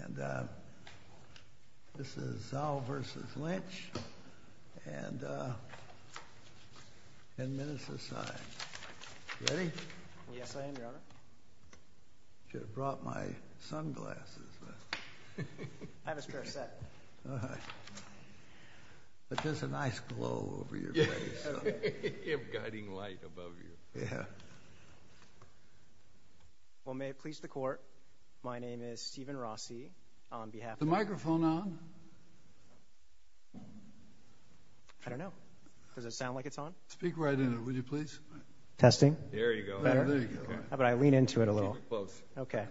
And, uh, this is Zhou v. Lynch, and, uh, ten minutes aside. Ready? Yes, I am, Your Honor. Should have brought my sunglasses. I have a spare set. All right. But there's a nice glow over your face. You have guiding light above you. Yeah. Well, may it please the Court, my name is Stephen Rossi. On behalf of… Is the microphone on? I don't know. Does it sound like it's on? Speak right in it, would you please? Testing. There you go. Better? There you go. How about I lean into it a little? Keep it close. Okay.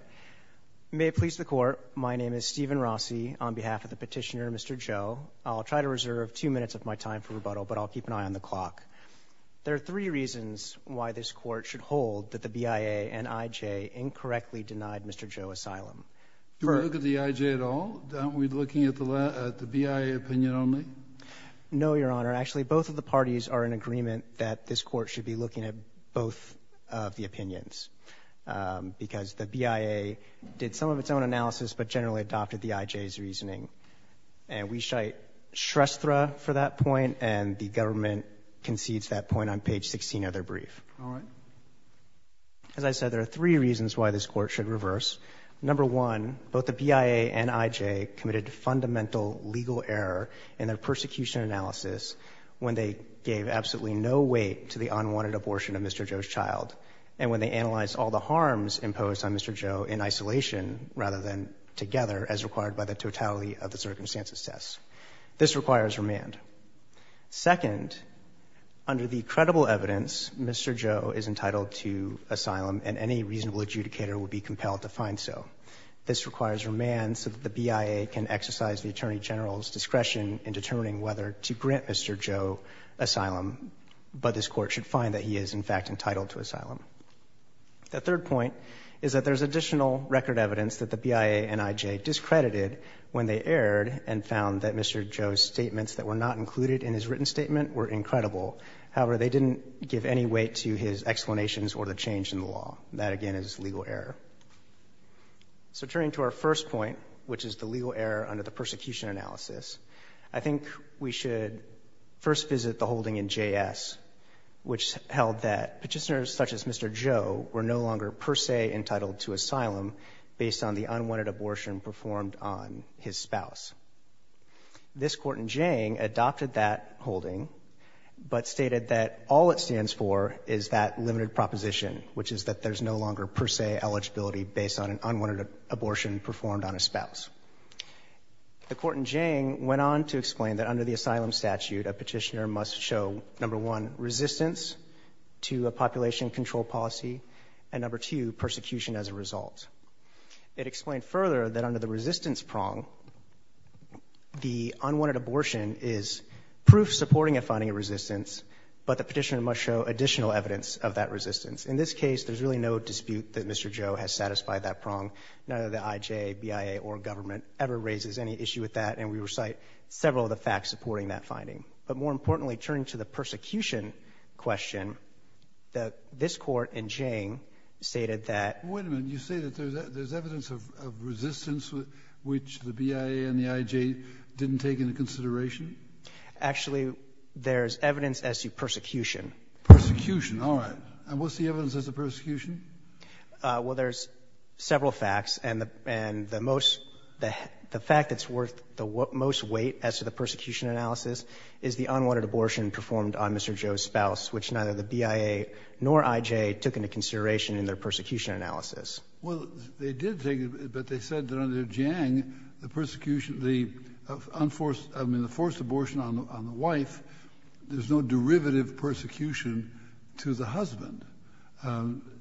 May it please the Court, my name is Stephen Rossi. On behalf of the petitioner, Mr. Zhou, I'll try to reserve two minutes of my time for rebuttal, but I'll keep an eye on the clock. There are three reasons why this Court should hold that the BIA and IJ incorrectly denied Mr. Zhou asylum. Do we look at the IJ at all? Aren't we looking at the BIA opinion only? No, Your Honor. Actually, both of the parties are in agreement that this Court should be looking at both of the opinions because the BIA did some of its own analysis, but generally adopted the IJ's reasoning. We cite Shrestha for that point and the government concedes that point on page 16 of their brief. All right. As I said, there are three reasons why this Court should reverse. Number one, both the BIA and IJ committed fundamental legal error in their persecution analysis when they gave absolutely no weight to the unwanted abortion of Mr. Zhou's child and when they analyzed all the harms imposed on Mr. Zhou in isolation rather than together as required by the totality of the circumstances test. This requires remand. Second, under the credible evidence, Mr. Zhou is entitled to asylum and any reasonable adjudicator would be compelled to find so. This requires remand so that the BIA can exercise the Attorney General's discretion in determining whether to grant Mr. Zhou asylum, but this Court should find that he is, in fact, entitled to asylum. The third point is that there's additional record evidence that the BIA and IJ discredited when they erred and found that Mr. Zhou's statements that were not included in his written statement were incredible. However, they didn't give any weight to his explanations or the change in the law. That, again, is legal error. So turning to our first point, which is the legal error under the persecution analysis, I think we should first visit the holding in JS, which held that petitioners such as Mr. Zhou were no longer per se entitled to asylum based on the unwanted abortion performed on his spouse. This Court in Jiang adopted that holding, but stated that all it stands for is that limited proposition, which is that there's no longer per se eligibility based on an unwanted abortion performed on a spouse. The Court in Jiang went on to explain that under the asylum statute, a petitioner must show, number one, resistance to a population control policy, and number two, persecution as a result. It explained further that under the resistance prong, the unwanted abortion is proof supporting a finding of resistance, but the petitioner must show additional evidence of that resistance. In this case, there's really no dispute that Mr. Zhou has satisfied that prong, neither the IJ, BIA, or government ever raises any issue with that, and we recite several of the facts supporting that finding. But more importantly, turning to the persecution question, this Court in Jiang stated that Wait a minute. You say that there's evidence of resistance, which the BIA and the IJ didn't take into consideration? Actually, there's evidence as to persecution. All right. And what's the evidence as to persecution? Well, there's several facts, and the most, the fact that's worth the most weight as to the persecution analysis is the unwanted abortion performed on Mr. Zhou's spouse, which neither the BIA nor IJ took into consideration in their persecution analysis. Well, they did take it, but they said that under Jiang, the persecution, the unforced abortion on the wife, there's no derivative persecution to the husband.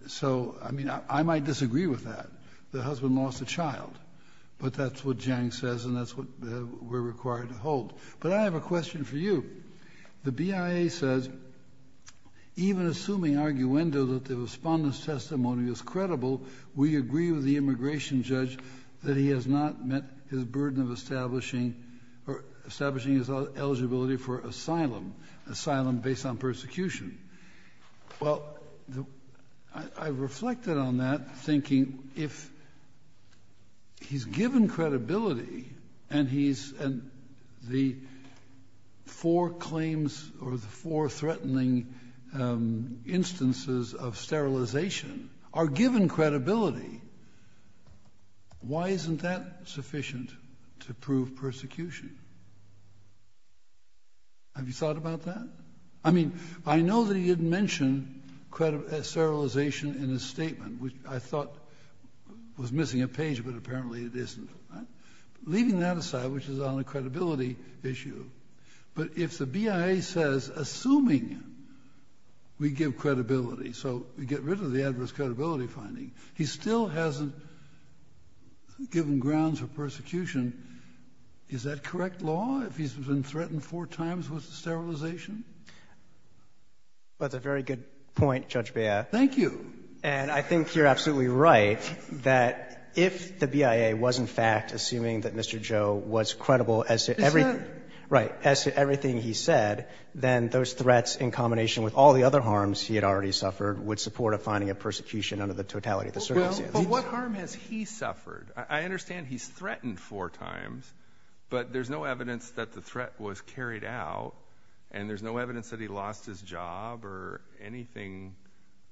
So, I mean, I might disagree with that. The husband lost a child. But that's what Jiang says, and that's what we're required to hold. But I have a question for you. The BIA says, even assuming arguendo that the respondent's testimony is credible, we agree with the immigration judge that he has not met his burden of establishing, or establishing his eligibility for asylum, asylum based on persecution. Well, I reflected on that thinking, if he's given credibility, and he's, and the four claims, or the four threatening instances of sterilization are given credibility, why isn't that sufficient to prove persecution? Have you thought about that? I mean, I know that he didn't mention sterilization in his statement, which I thought was missing a page, but apparently it isn't. Leaving that aside, which is on a credibility issue, but if the BIA says, assuming we give credibility, so we get rid of the adverse credibility finding, he still hasn't given grounds for persecution, is that correct law? If he's been threatened four times with sterilization? That's a very good point, Judge Bea. Thank you. And I think you're absolutely right that if the BIA was in fact assuming that Mr. Joe was credible as to everything he said, then those threats in combination with all the other harms he had already suffered would support a finding of persecution under the totality of the circumstances. But what harm has he suffered? I understand he's threatened four times, but there's no evidence that the threat was carried out, and there's no evidence that he lost his job or anything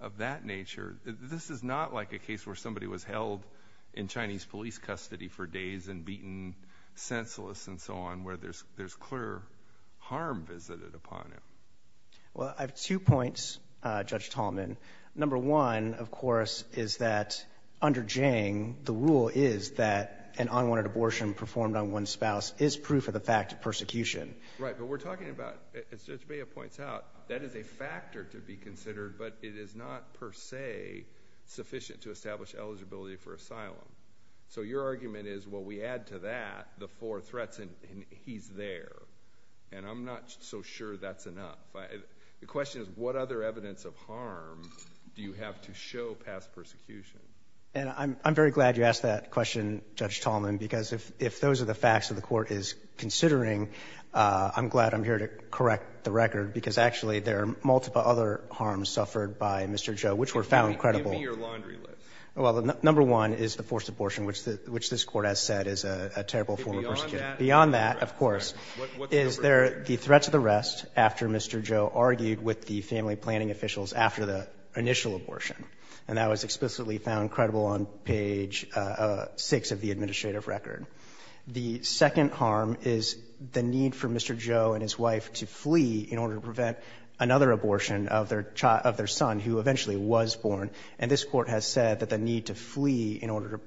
of that nature. This is not like a case where somebody was held in Chinese police custody for days and beaten senseless and so on, where there's clear harm visited upon him. Well, I have two points, Judge Tallman. Number one, of course, is that under Jiang, the rule is that an unwanted abortion performed on one's spouse is proof of the fact of persecution. Right, but we're talking about, as Judge Bea points out, that is a factor to be considered, but it is not per se sufficient to establish eligibility for asylum. So your argument is, well, we add to that the four threats, and he's there. And I'm not so sure that's enough. The question is, what other evidence of harm do you have to show past persecution? And I'm very glad you asked that question, Judge Tallman, because if those are the facts that the Court is considering, I'm glad I'm here to correct the record, because actually there are multiple other harms suffered by Mr. Zhou, which were found credible. Give me your laundry list. Well, number one is the forced abortion, which this Court has said is a terrible form of persecution. Beyond that, of course. Is there the threat to the rest after Mr. Zhou argued with the family planning officials after the initial abortion? And that was explicitly found credible on page 6 of the administrative record. The second harm is the need for Mr. Zhou and his wife to flee in order to prevent another abortion of their son, who eventually was born. And this Court has said that the need to flee in order to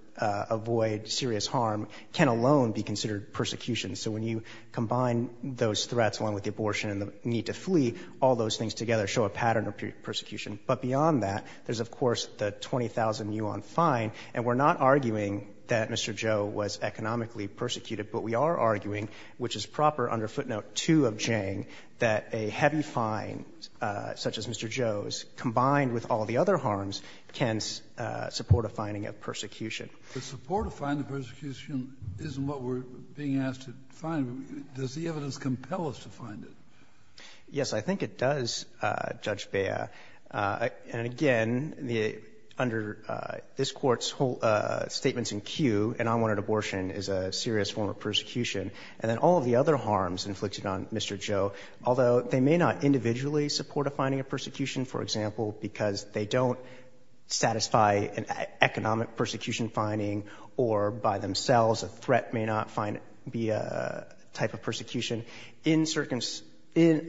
avoid serious harm can alone be considered persecution. So when you combine those threats along with the abortion and the need to flee, all those things together show a pattern of persecution. But beyond that, there's, of course, the 20,000 yuan fine. And we're not arguing that Mr. Zhou was economically persecuted, but we are arguing, which is proper under footnote 2 of Zhang, that a heavy fine such as Mr. Zhou's combined with all the other harms can support a finding of persecution. The support of finding persecution isn't what we're being asked to find. Does the evidence compel us to find it? Yes, I think it does, Judge Bea. And again, under this Court's whole statements in queue, an unwanted abortion is a serious form of persecution. And then all of the other harms inflicted on Mr. Zhou, although they may not individually support a finding of persecution, for example, because they don't satisfy an economic persecution finding, or by themselves a threat may not be a type of persecution.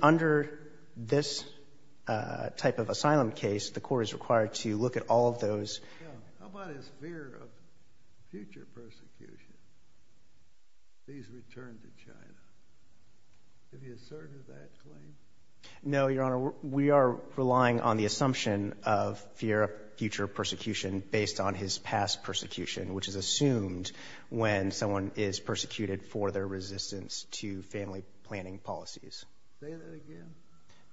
Under this type of asylum case, the Court is required to look at all of those. How about his fear of future persecution, his return to China? Did he assert that claim? No, Your Honor, we are relying on the assumption of fear of future persecution based on his past persecution, which is assumed when someone is persecuted for their resistance to family planning policies. Say that again.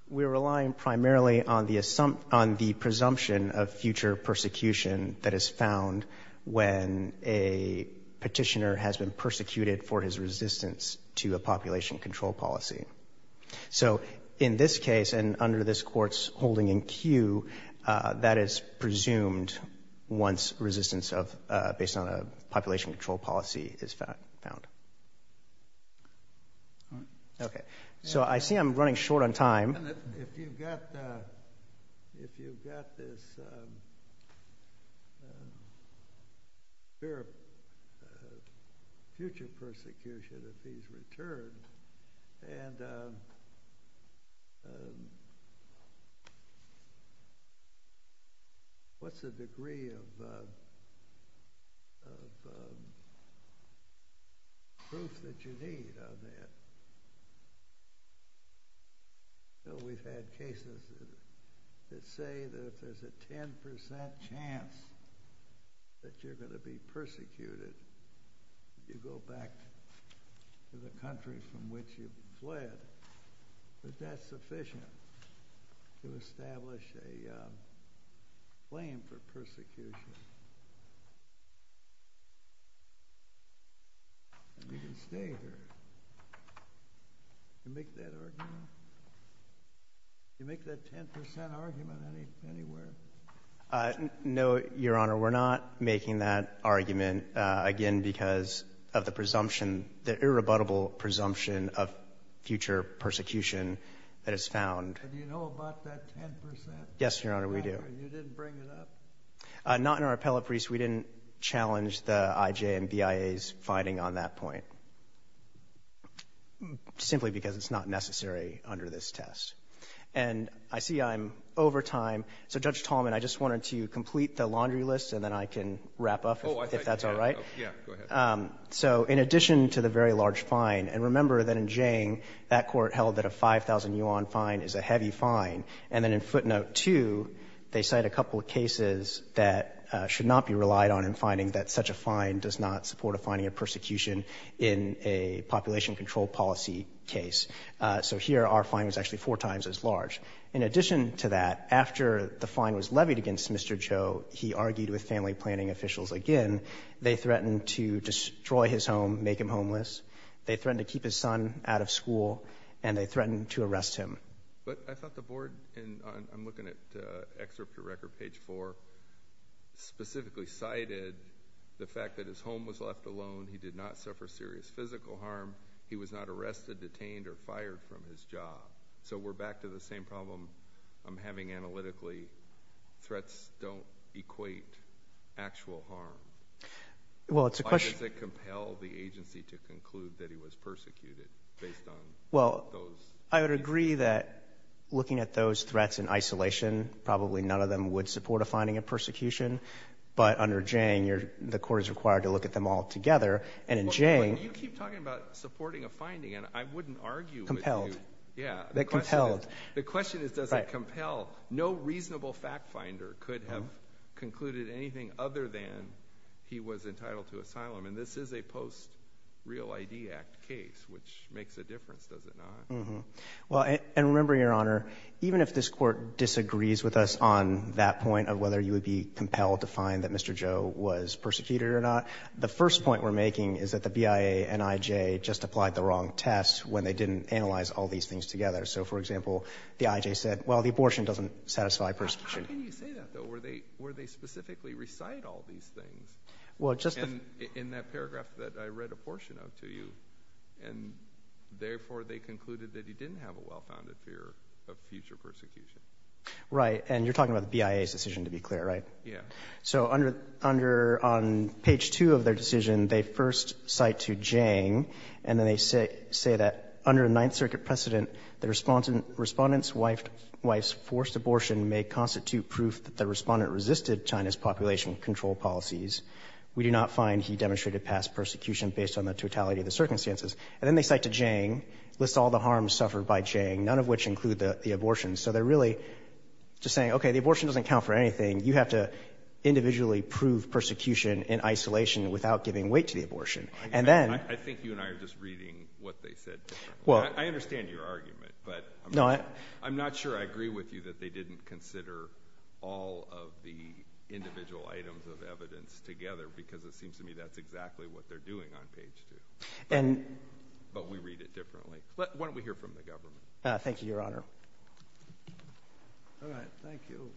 We're relying primarily on the presumption of future persecution that is found when a petitioner has been persecuted for his resistance to a population control policy. So in this case, and under this Court's holding in queue, that is presumed once resistance based on a population control policy is found. Okay. So I see I'm running short on time. If you've got this fear of future persecution if he's returned, and what's the degree of proof that you need on that? We've had cases that say that if there's a 10% chance that you're going to be persecuted if you go back to the country from which you fled, that that's sufficient to establish a claim for persecution. You can stay here. You make that argument? You make that 10% argument anywhere? No, Your Honor, we're not making that argument, again, because of the presumption, the irrebuttable presumption of future persecution that is found. Do you know about that 10%? Yes, Your Honor, we do. You didn't bring it up? Not in our appellate briefs. We didn't challenge the IJ and BIA's finding on that point, simply because it's not necessary under this test. And I see I'm over time. So, Judge Tallman, I just wanted to complete the laundry list, and then I can wrap up if that's all right. Yeah, go ahead. So in addition to the very large fine, and remember that in Jiang, that Court held that a 5,000 yuan fine is a heavy fine, and then in footnote 2, they cite a couple of cases that should not be relied on in finding that such a fine does not support a finding of persecution in a population control policy case. So here, our fine was actually four times as large. In addition to that, after the fine was levied against Mr. Cho, he argued with family planning officials again. They threatened to destroy his home, make him homeless. They threatened to keep his son out of school, and they threatened to arrest him. But I thought the board, and I'm looking at excerpt of record page 4, specifically cited the fact that his home was left alone, he did not suffer serious physical harm, he was not arrested, detained, or fired from his job. So we're back to the same problem I'm having analytically. Threats don't equate actual harm. Why does it compel the agency to conclude that he was persecuted based on those? I would agree that looking at those threats in isolation, probably none of them would support a finding of persecution. But under Jang, the court is required to look at them all together. But you keep talking about supporting a finding, and I wouldn't argue with you. Compelled. Yeah. The question is does it compel. No reasonable fact finder could have concluded anything other than he was entitled to asylum. And this is a post-Real ID Act case, which makes a difference, does it not? And remember, Your Honor, even if this court disagrees with us on that point of whether you would be compelled to find that Mr. Joe was persecuted or not, the first point we're making is that the BIA and IJ just applied the wrong test when they didn't analyze all these things together. So, for example, the IJ said, well, the abortion doesn't satisfy persecution. How can you say that, though? Where they specifically recite all these things in that paragraph that I read a portion of to you. And, therefore, they concluded that he didn't have a well-founded fear of future persecution. Right. And you're talking about the BIA's decision, to be clear, right? Yeah. So on page two of their decision, they first cite to Jang, and then they say that under a Ninth Circuit precedent, the respondent's wife's forced abortion may constitute proof that the respondent resisted China's population control policies. We do not find he demonstrated past persecution based on the totality of the circumstances. And then they cite to Jang, list all the harms suffered by Jang, none of which include the abortion. So they're really just saying, okay, the abortion doesn't count for anything. You have to individually prove persecution in isolation without giving weight to the abortion. I think you and I are just reading what they said. I understand your argument, but I'm not sure I agree with you that they didn't consider all of the individual items of evidence together because it seems to me that's exactly what they're doing on page two. But we read it differently. Why don't we hear from the government? Thank you, Your Honor. All right. Thank you.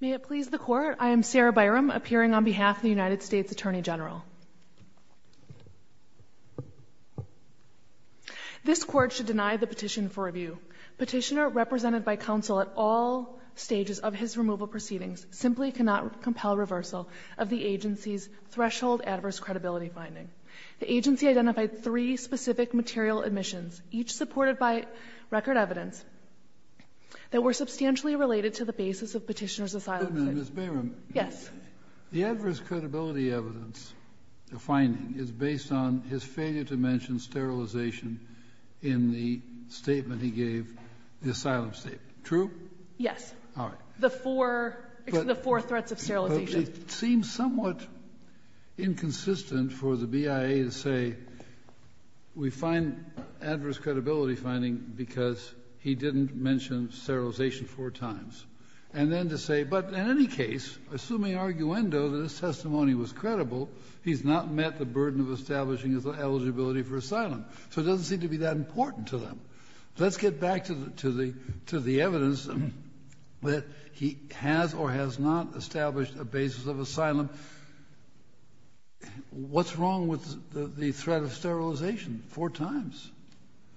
May it please the Court, I am Sarah Byram, appearing on behalf of the United States Attorney General. This Court should deny the petition for review. Petitioner, represented by counsel at all stages of his removal proceedings, simply cannot compel reversal The agency's threshold adverse credibility finding The agency identified three specific material admissions, each supported by record evidence, that were substantially related to the basis of Petitioner's asylum statement. Ms. Byram. Yes. The adverse credibility evidence, the finding, is based on his failure to mention sterilization in the statement he gave, the asylum statement. True? Yes. All right. The four threats of sterilization. It seems somewhat inconsistent for the BIA to say, we find adverse credibility finding because he didn't mention sterilization four times. And then to say, but in any case, assuming arguendo that his testimony was credible, he's not met the burden of establishing his eligibility for asylum. So it doesn't seem to be that important to them. Let's get back to the evidence that he has or has not established a basis of asylum. What's wrong with the threat of sterilization four times?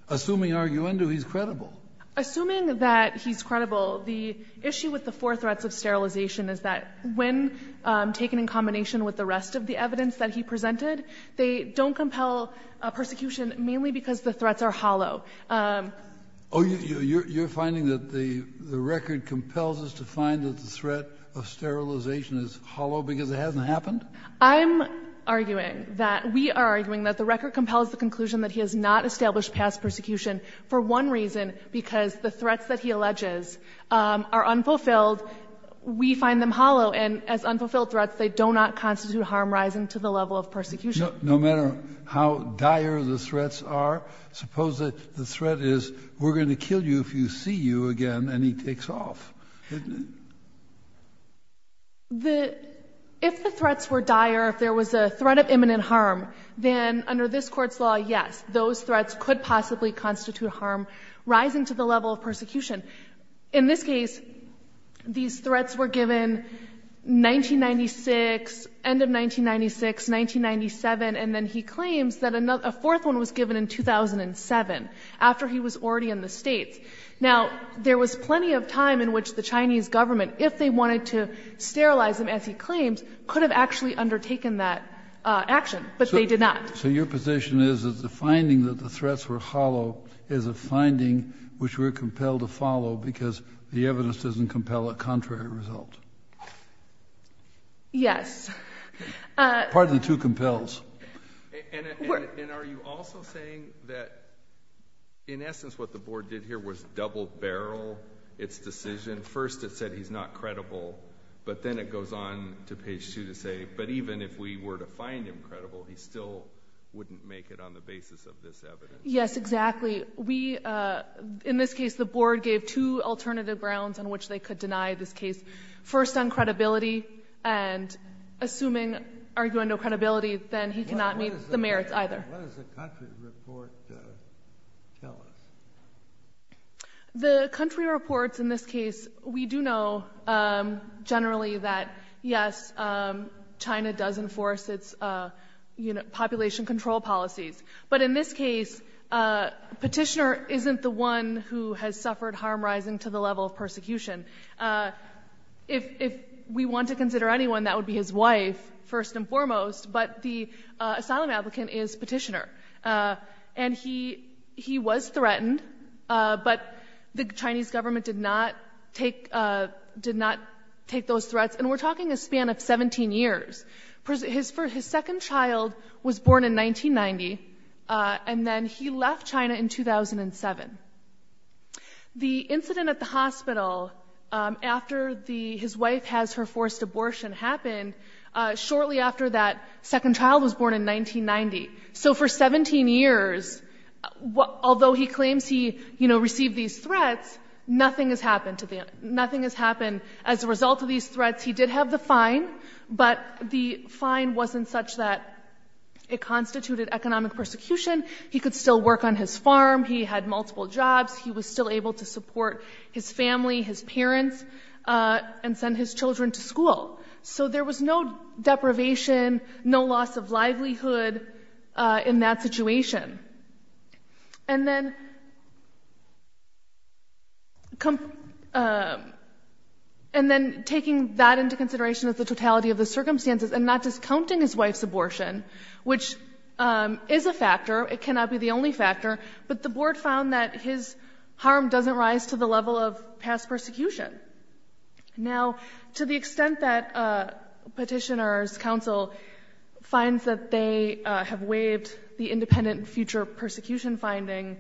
Assuming arguendo he's credible. Assuming that he's credible, the issue with the four threats of sterilization is that when taken in combination with the rest of the evidence that he presented, they don't compel persecution, mainly because the threats are hollow. Oh, you're finding that the record compels us to find that the threat of sterilization is hollow because it hasn't happened? I'm arguing that we are arguing that the record compels the conclusion that he has not established past persecution for one reason, because the threats that he alleges are unfulfilled. We find them hollow. And as unfulfilled threats, they do not constitute harm rising to the level of persecution. No matter how dire the threats are, suppose the threat is, we're going to kill you if you see you again, and he takes off, isn't it? If the threats were dire, if there was a threat of imminent harm, then under this court's law, yes, those threats could possibly constitute harm rising to the level of persecution. In this case, these threats were given 1996, end of 1996, 1997, and then he claims that a fourth one was given in 2007, after he was already in the States. Now, there was plenty of time in which the Chinese government, if they wanted to sterilize him, as he claims, could have actually undertaken that action, but they did not. So your position is that the finding that the threats were hollow is a finding which we're compelled to follow because the evidence doesn't compel a contrary result? Yes. Partly, too, compels. And are you also saying that, in essence, what the board did here was double-barrel its decision? First, it said he's not credible, but then it goes on to page 2 to say, but even if we were to find him credible, he still wouldn't make it on the basis of this evidence. Yes, exactly. In this case, the board gave two alternative grounds on which they could deny this case. First, on credibility, and assuming, arguing no credibility, then he cannot meet the merits either. What does the country report tell us? The country reports, in this case, we do know generally that, yes, China does enforce its population control policies. But in this case, rising to the level of persecution. If we want to consider anyone, that would be his wife, first and foremost, but the asylum applicant is petitioner. And he was threatened, but the Chinese government did not take those threats. And we're talking a span of 17 years. His second child was born in 1990, and then he left China in 2007. The incident at the hospital after his wife has her forced abortion happened shortly after that second child was born in 1990. So for 17 years, although he claims he received these threats, nothing has happened to them. Nothing has happened as a result of these threats. He did have the fine, but the fine wasn't such that it constituted economic persecution. He could still work on his farm. He had multiple jobs. He was still able to support his family, his parents, and send his children to school. So there was no deprivation, no loss of livelihood in that situation. And then... And then taking that into consideration as the totality of the circumstances and not just counting his wife's abortion, which is a factor, it cannot be the only factor, but the board found that his harm doesn't rise to the level of past persecution. Now, to the extent that Petitioner's counsel finds that they have waived the independent future persecution finding,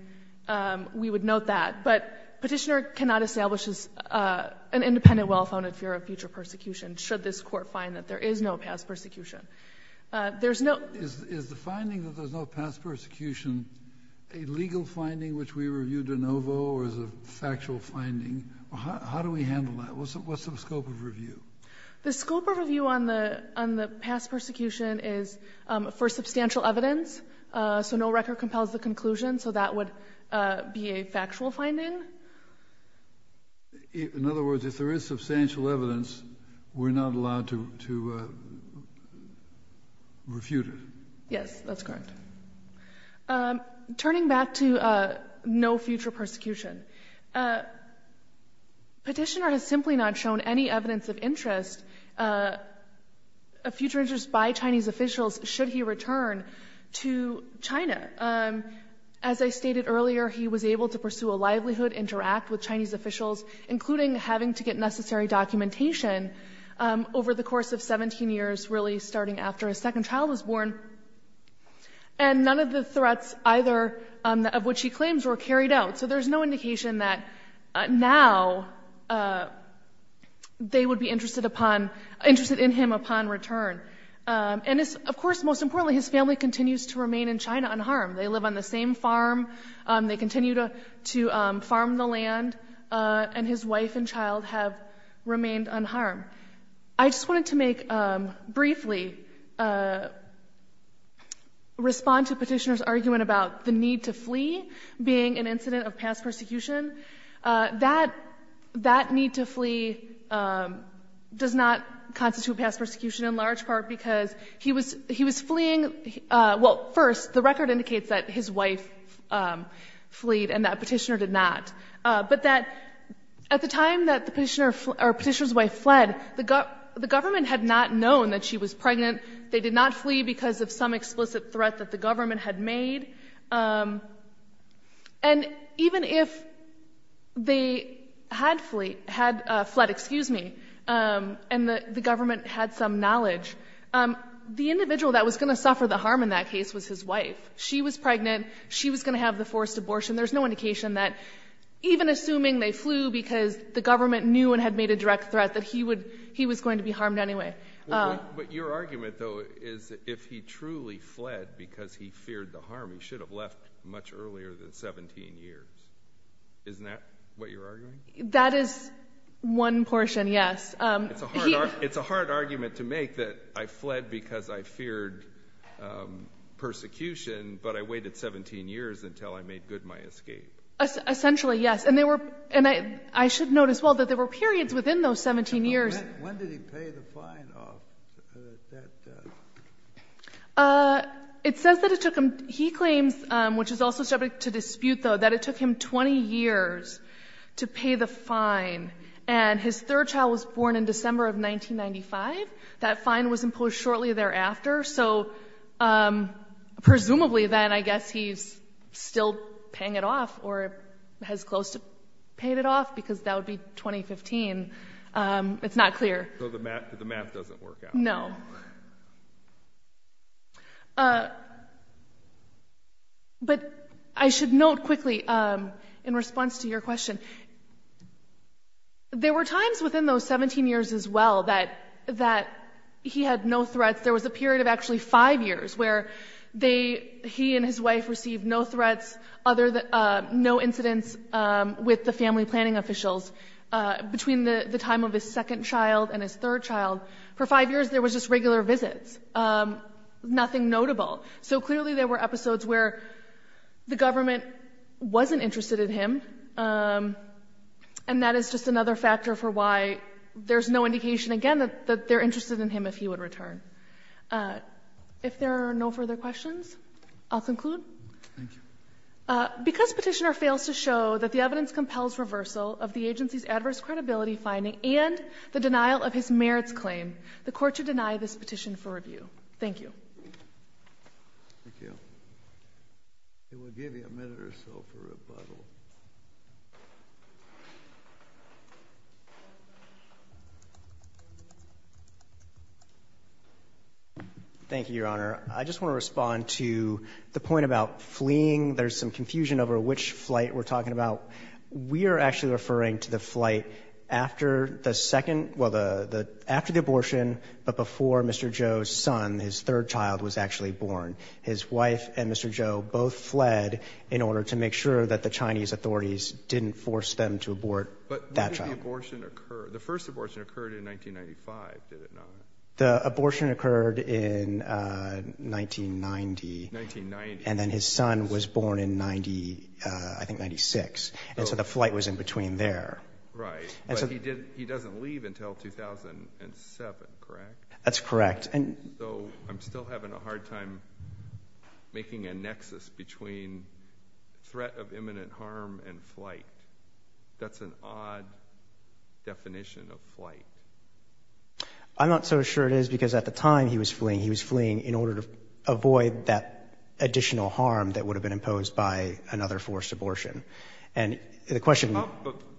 we would note that. But Petitioner cannot establish an independent well-founded fear of future persecution should this court find that there is no past persecution. There's no... Is the finding that there's no past persecution a legal finding which we review de novo or is a factual finding? How do we handle that? What's the scope of review? The scope of review on the past persecution is for substantial evidence, so no record compels the conclusion, so that would be a factual finding. In other words, if there is substantial evidence, we're not allowed to refute it. Yes, that's correct. Turning back to no future persecution, Petitioner has simply not shown any evidence of interest, of future interest by Chinese officials should he return to China. As I stated earlier, he was able to pursue a livelihood, interact with Chinese officials, including having to get necessary documentation over the course of 17 years, really starting after his second child was born, and none of the threats either of which he claims were carried out. So there's no indication that now they would be interested in him upon return. And, of course, most importantly, his family continues to remain in China unharmed. They live on the same farm. They continue to farm the land and his wife and child have remained unharmed. I just wanted to make, briefly, respond to Petitioner's argument about the need to flee being an incident of past persecution. That need to flee does not constitute past persecution in large part because he was fleeing... Well, first, the record indicates that his wife fleed and that Petitioner did not, but that at the time that Petitioner's wife fled, the government had not known that she was pregnant. They did not flee because of some explicit threat that the government had made. And even if they had fled and the government had some knowledge, the individual that was going to suffer the harm in that case was his wife. She was pregnant. She was going to have the forced abortion. There's no indication that even assuming they flew because the government knew and had made a direct threat that he was going to be harmed anyway. But your argument, though, is if he truly fled because he feared the harm, he should have left much earlier than 17 years. Isn't that what you're arguing? That is one portion, yes. It's a hard argument to make that I fled because I feared persecution, but I waited 17 years until I made good my escape. Essentially, yes. And I should note as well that there were periods within those 17 years... When did he pay the fine? It says that it took him... He claims, which is also subject to dispute, though, that it took him 20 years to pay the fine. And his third child was born in December of 1995. That fine was imposed shortly thereafter. So presumably, then, I guess he's still paying it off or has close to paid it off, because that would be 2015. It's not clear. So the math doesn't work out. No. But I should note quickly, in response to your question, there were times within those 17 years as well that he had no threats. There was a period of actually five years where he and his wife received no threats, no incidents with the family planning officials between the time of his second child and his third child. For five years, there was just regular visits, nothing notable. So clearly, there were episodes where the government wasn't interested in him, and that is just another factor for why there's no indication, again, that they're interested in him if he would return. If there are no further questions, I'll conclude. Thank you. Because Petitioner fails to show that the evidence compels reversal of the agency's adverse credibility finding and the denial of his merits claim, the Court should deny this petition for review. Thank you. Thank you. We'll give you a minute or so for rebuttal. Thank you, Your Honor. I just want to respond to the point about fleeing. There's some confusion over which flight we're talking about. We are actually referring to the flight after the second... well, after the abortion, but before Mr. Zhou's son, his third child, was actually born. His wife and Mr. Zhou both fled in order to make sure that the Chinese authorities didn't force them to abort that child. The first abortion occurred in 1995, did it not? The abortion occurred in 1990. 1990. And then his son was born in, I think, 96, and so the flight was in between there. Right. But he doesn't leave until 2007, correct? That's correct. So I'm still having a hard time making a nexus between threat of imminent harm and flight. That's an odd definition of flight. I'm not so sure it is, because at the time he was fleeing, he was fleeing in order to avoid that additional harm that would have been imposed by another forced abortion. And the question...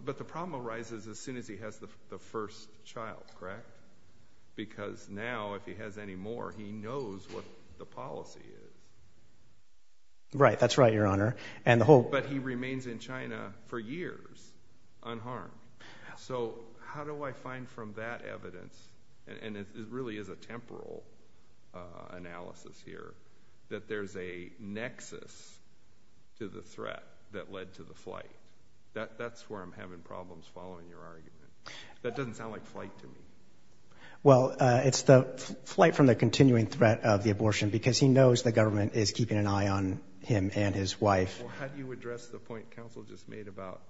But the problem arises as soon as he has the first child, correct? Because now, if he has any more, he knows what the policy is. Right, that's right, Your Honor. But he remains in China for years unharmed. So how do I find from that evidence, and it really is a temporal analysis here, that there's a nexus to the threat that led to the flight? That's where I'm having problems following your argument. That doesn't sound like flight to me. Well, it's the flight from the continuing threat of the abortion, because he knows the government is keeping an eye on him and his wife. Well, how do you address the point counsel just made about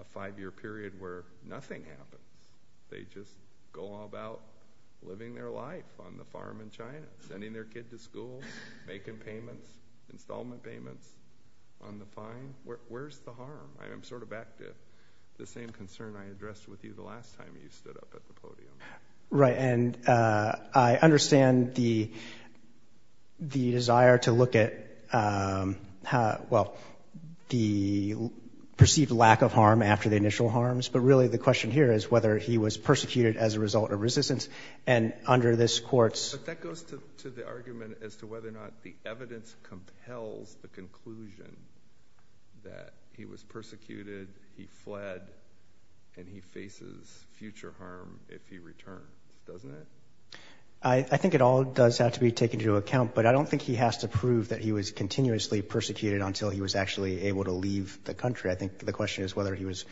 a five-year period where nothing happens? They just go about living their life on the farm in China, sending their kid to school, making payments, installment payments on the fine. Where's the harm? I'm sort of back to the same concern I addressed with you the last time you stood up at the podium. Right, and I understand the desire to look at, well, the perceived lack of harm after the initial harms, but really the question here is whether he was persecuted as a result of resistance, and under this court's... But that goes to the argument as to whether or not the evidence compels the conclusion that he was persecuted, he fled, and he faces future harm if he returned. Doesn't it? I think it all does have to be taken into account, but I don't think he has to prove that he was continuously persecuted until he was actually able to leave the country. I think the question is whether he was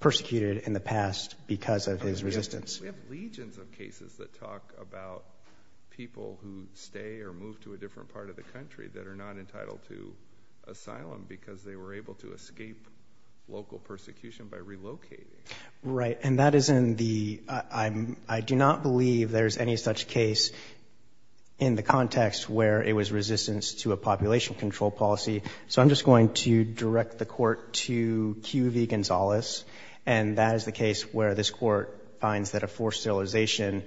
persecuted in the past because of his resistance. We have legions of cases that talk about people who stay or move to a different part of the country that are not entitled to asylum because they were able to escape local persecution by relocating. Right, and that is in the... I do not believe there's any such case in the context where it was resistance to a population control policy, so I'm just going to direct the court to Q.V. Gonzalez, and that is the case where this court finds that a forced sterilization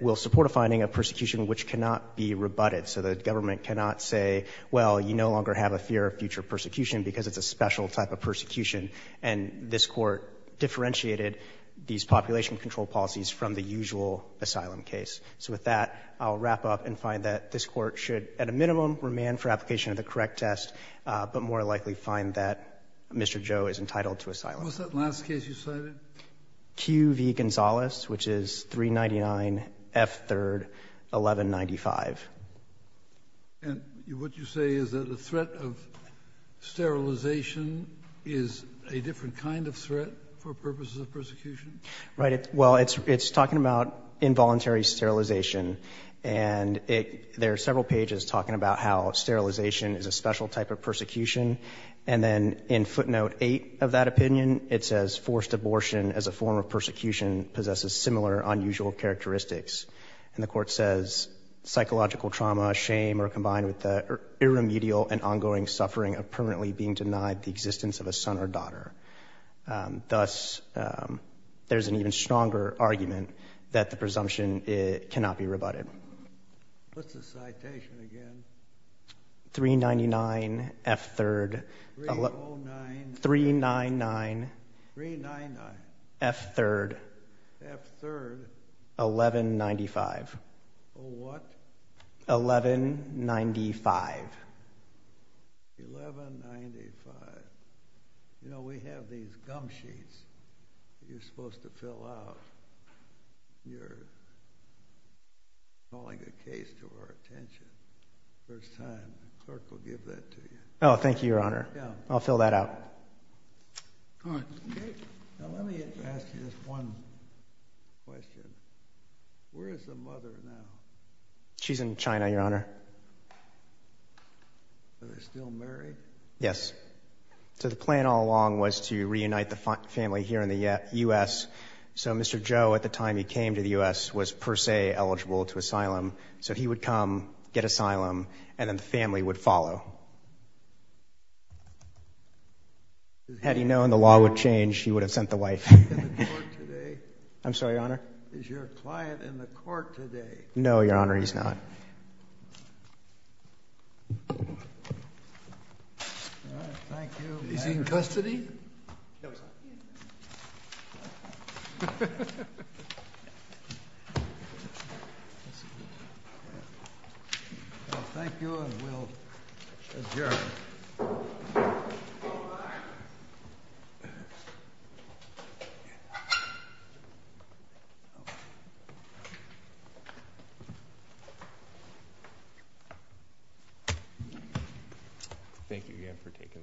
will support a finding of persecution which cannot be rebutted, so the government cannot say, well, you no longer have a fear of future persecution because it's a special type of persecution, and this court differentiated these population control policies from the usual asylum case. So with that, I'll wrap up and find that this court should, at a minimum, remand for application of the correct test, but more likely find that Mr. Joe is entitled to asylum. What's that last case you cited? Q.V. Gonzalez, which is 399 F. 3rd 1195. And what you say is that the threat of sterilization is a different kind of threat for purposes of persecution? Right, well, it's talking about involuntary sterilization, and there are several pages talking about how sterilization is a special type of persecution, and then in footnote 8 of that opinion, it says forced abortion as a form of persecution possesses similar unusual characteristics. And the court says psychological trauma, shame, are combined with the irremediable and ongoing suffering of permanently being denied the existence of a son or daughter. Thus, there's an even stronger argument that the presumption cannot be rebutted. What's the citation again? 399 F. 3rd. 3-0-9. 3-9-9. 3-9-9. F. 3rd. F. 3rd. 1195. A what? 1195. 1195. You know, we have these gum sheets that you're supposed to fill out. You're calling a case to our attention for the first time. The clerk will give that to you. Oh, thank you, Your Honor. Yeah. I'll fill that out. All right. Now, let me ask you just one question. Where is the mother now? She's in China, Your Honor. Are they still married? Yes. So the plan all along was to reunite the family here in the U.S., so Mr. Joe, at the time he came to the U.S., was per se eligible to asylum, so he would come, get asylum, and then the family would follow. Had he known the law would change, he would have sent the wife. I'm sorry, Your Honor? Is your client in the court today? No, Your Honor, he's not. Okay. All right, thank you. Is he in custody? No, he's not. Thank you, Your Honor. Thank you, and we'll adjourn. Thank you. Thank you again for taking the case.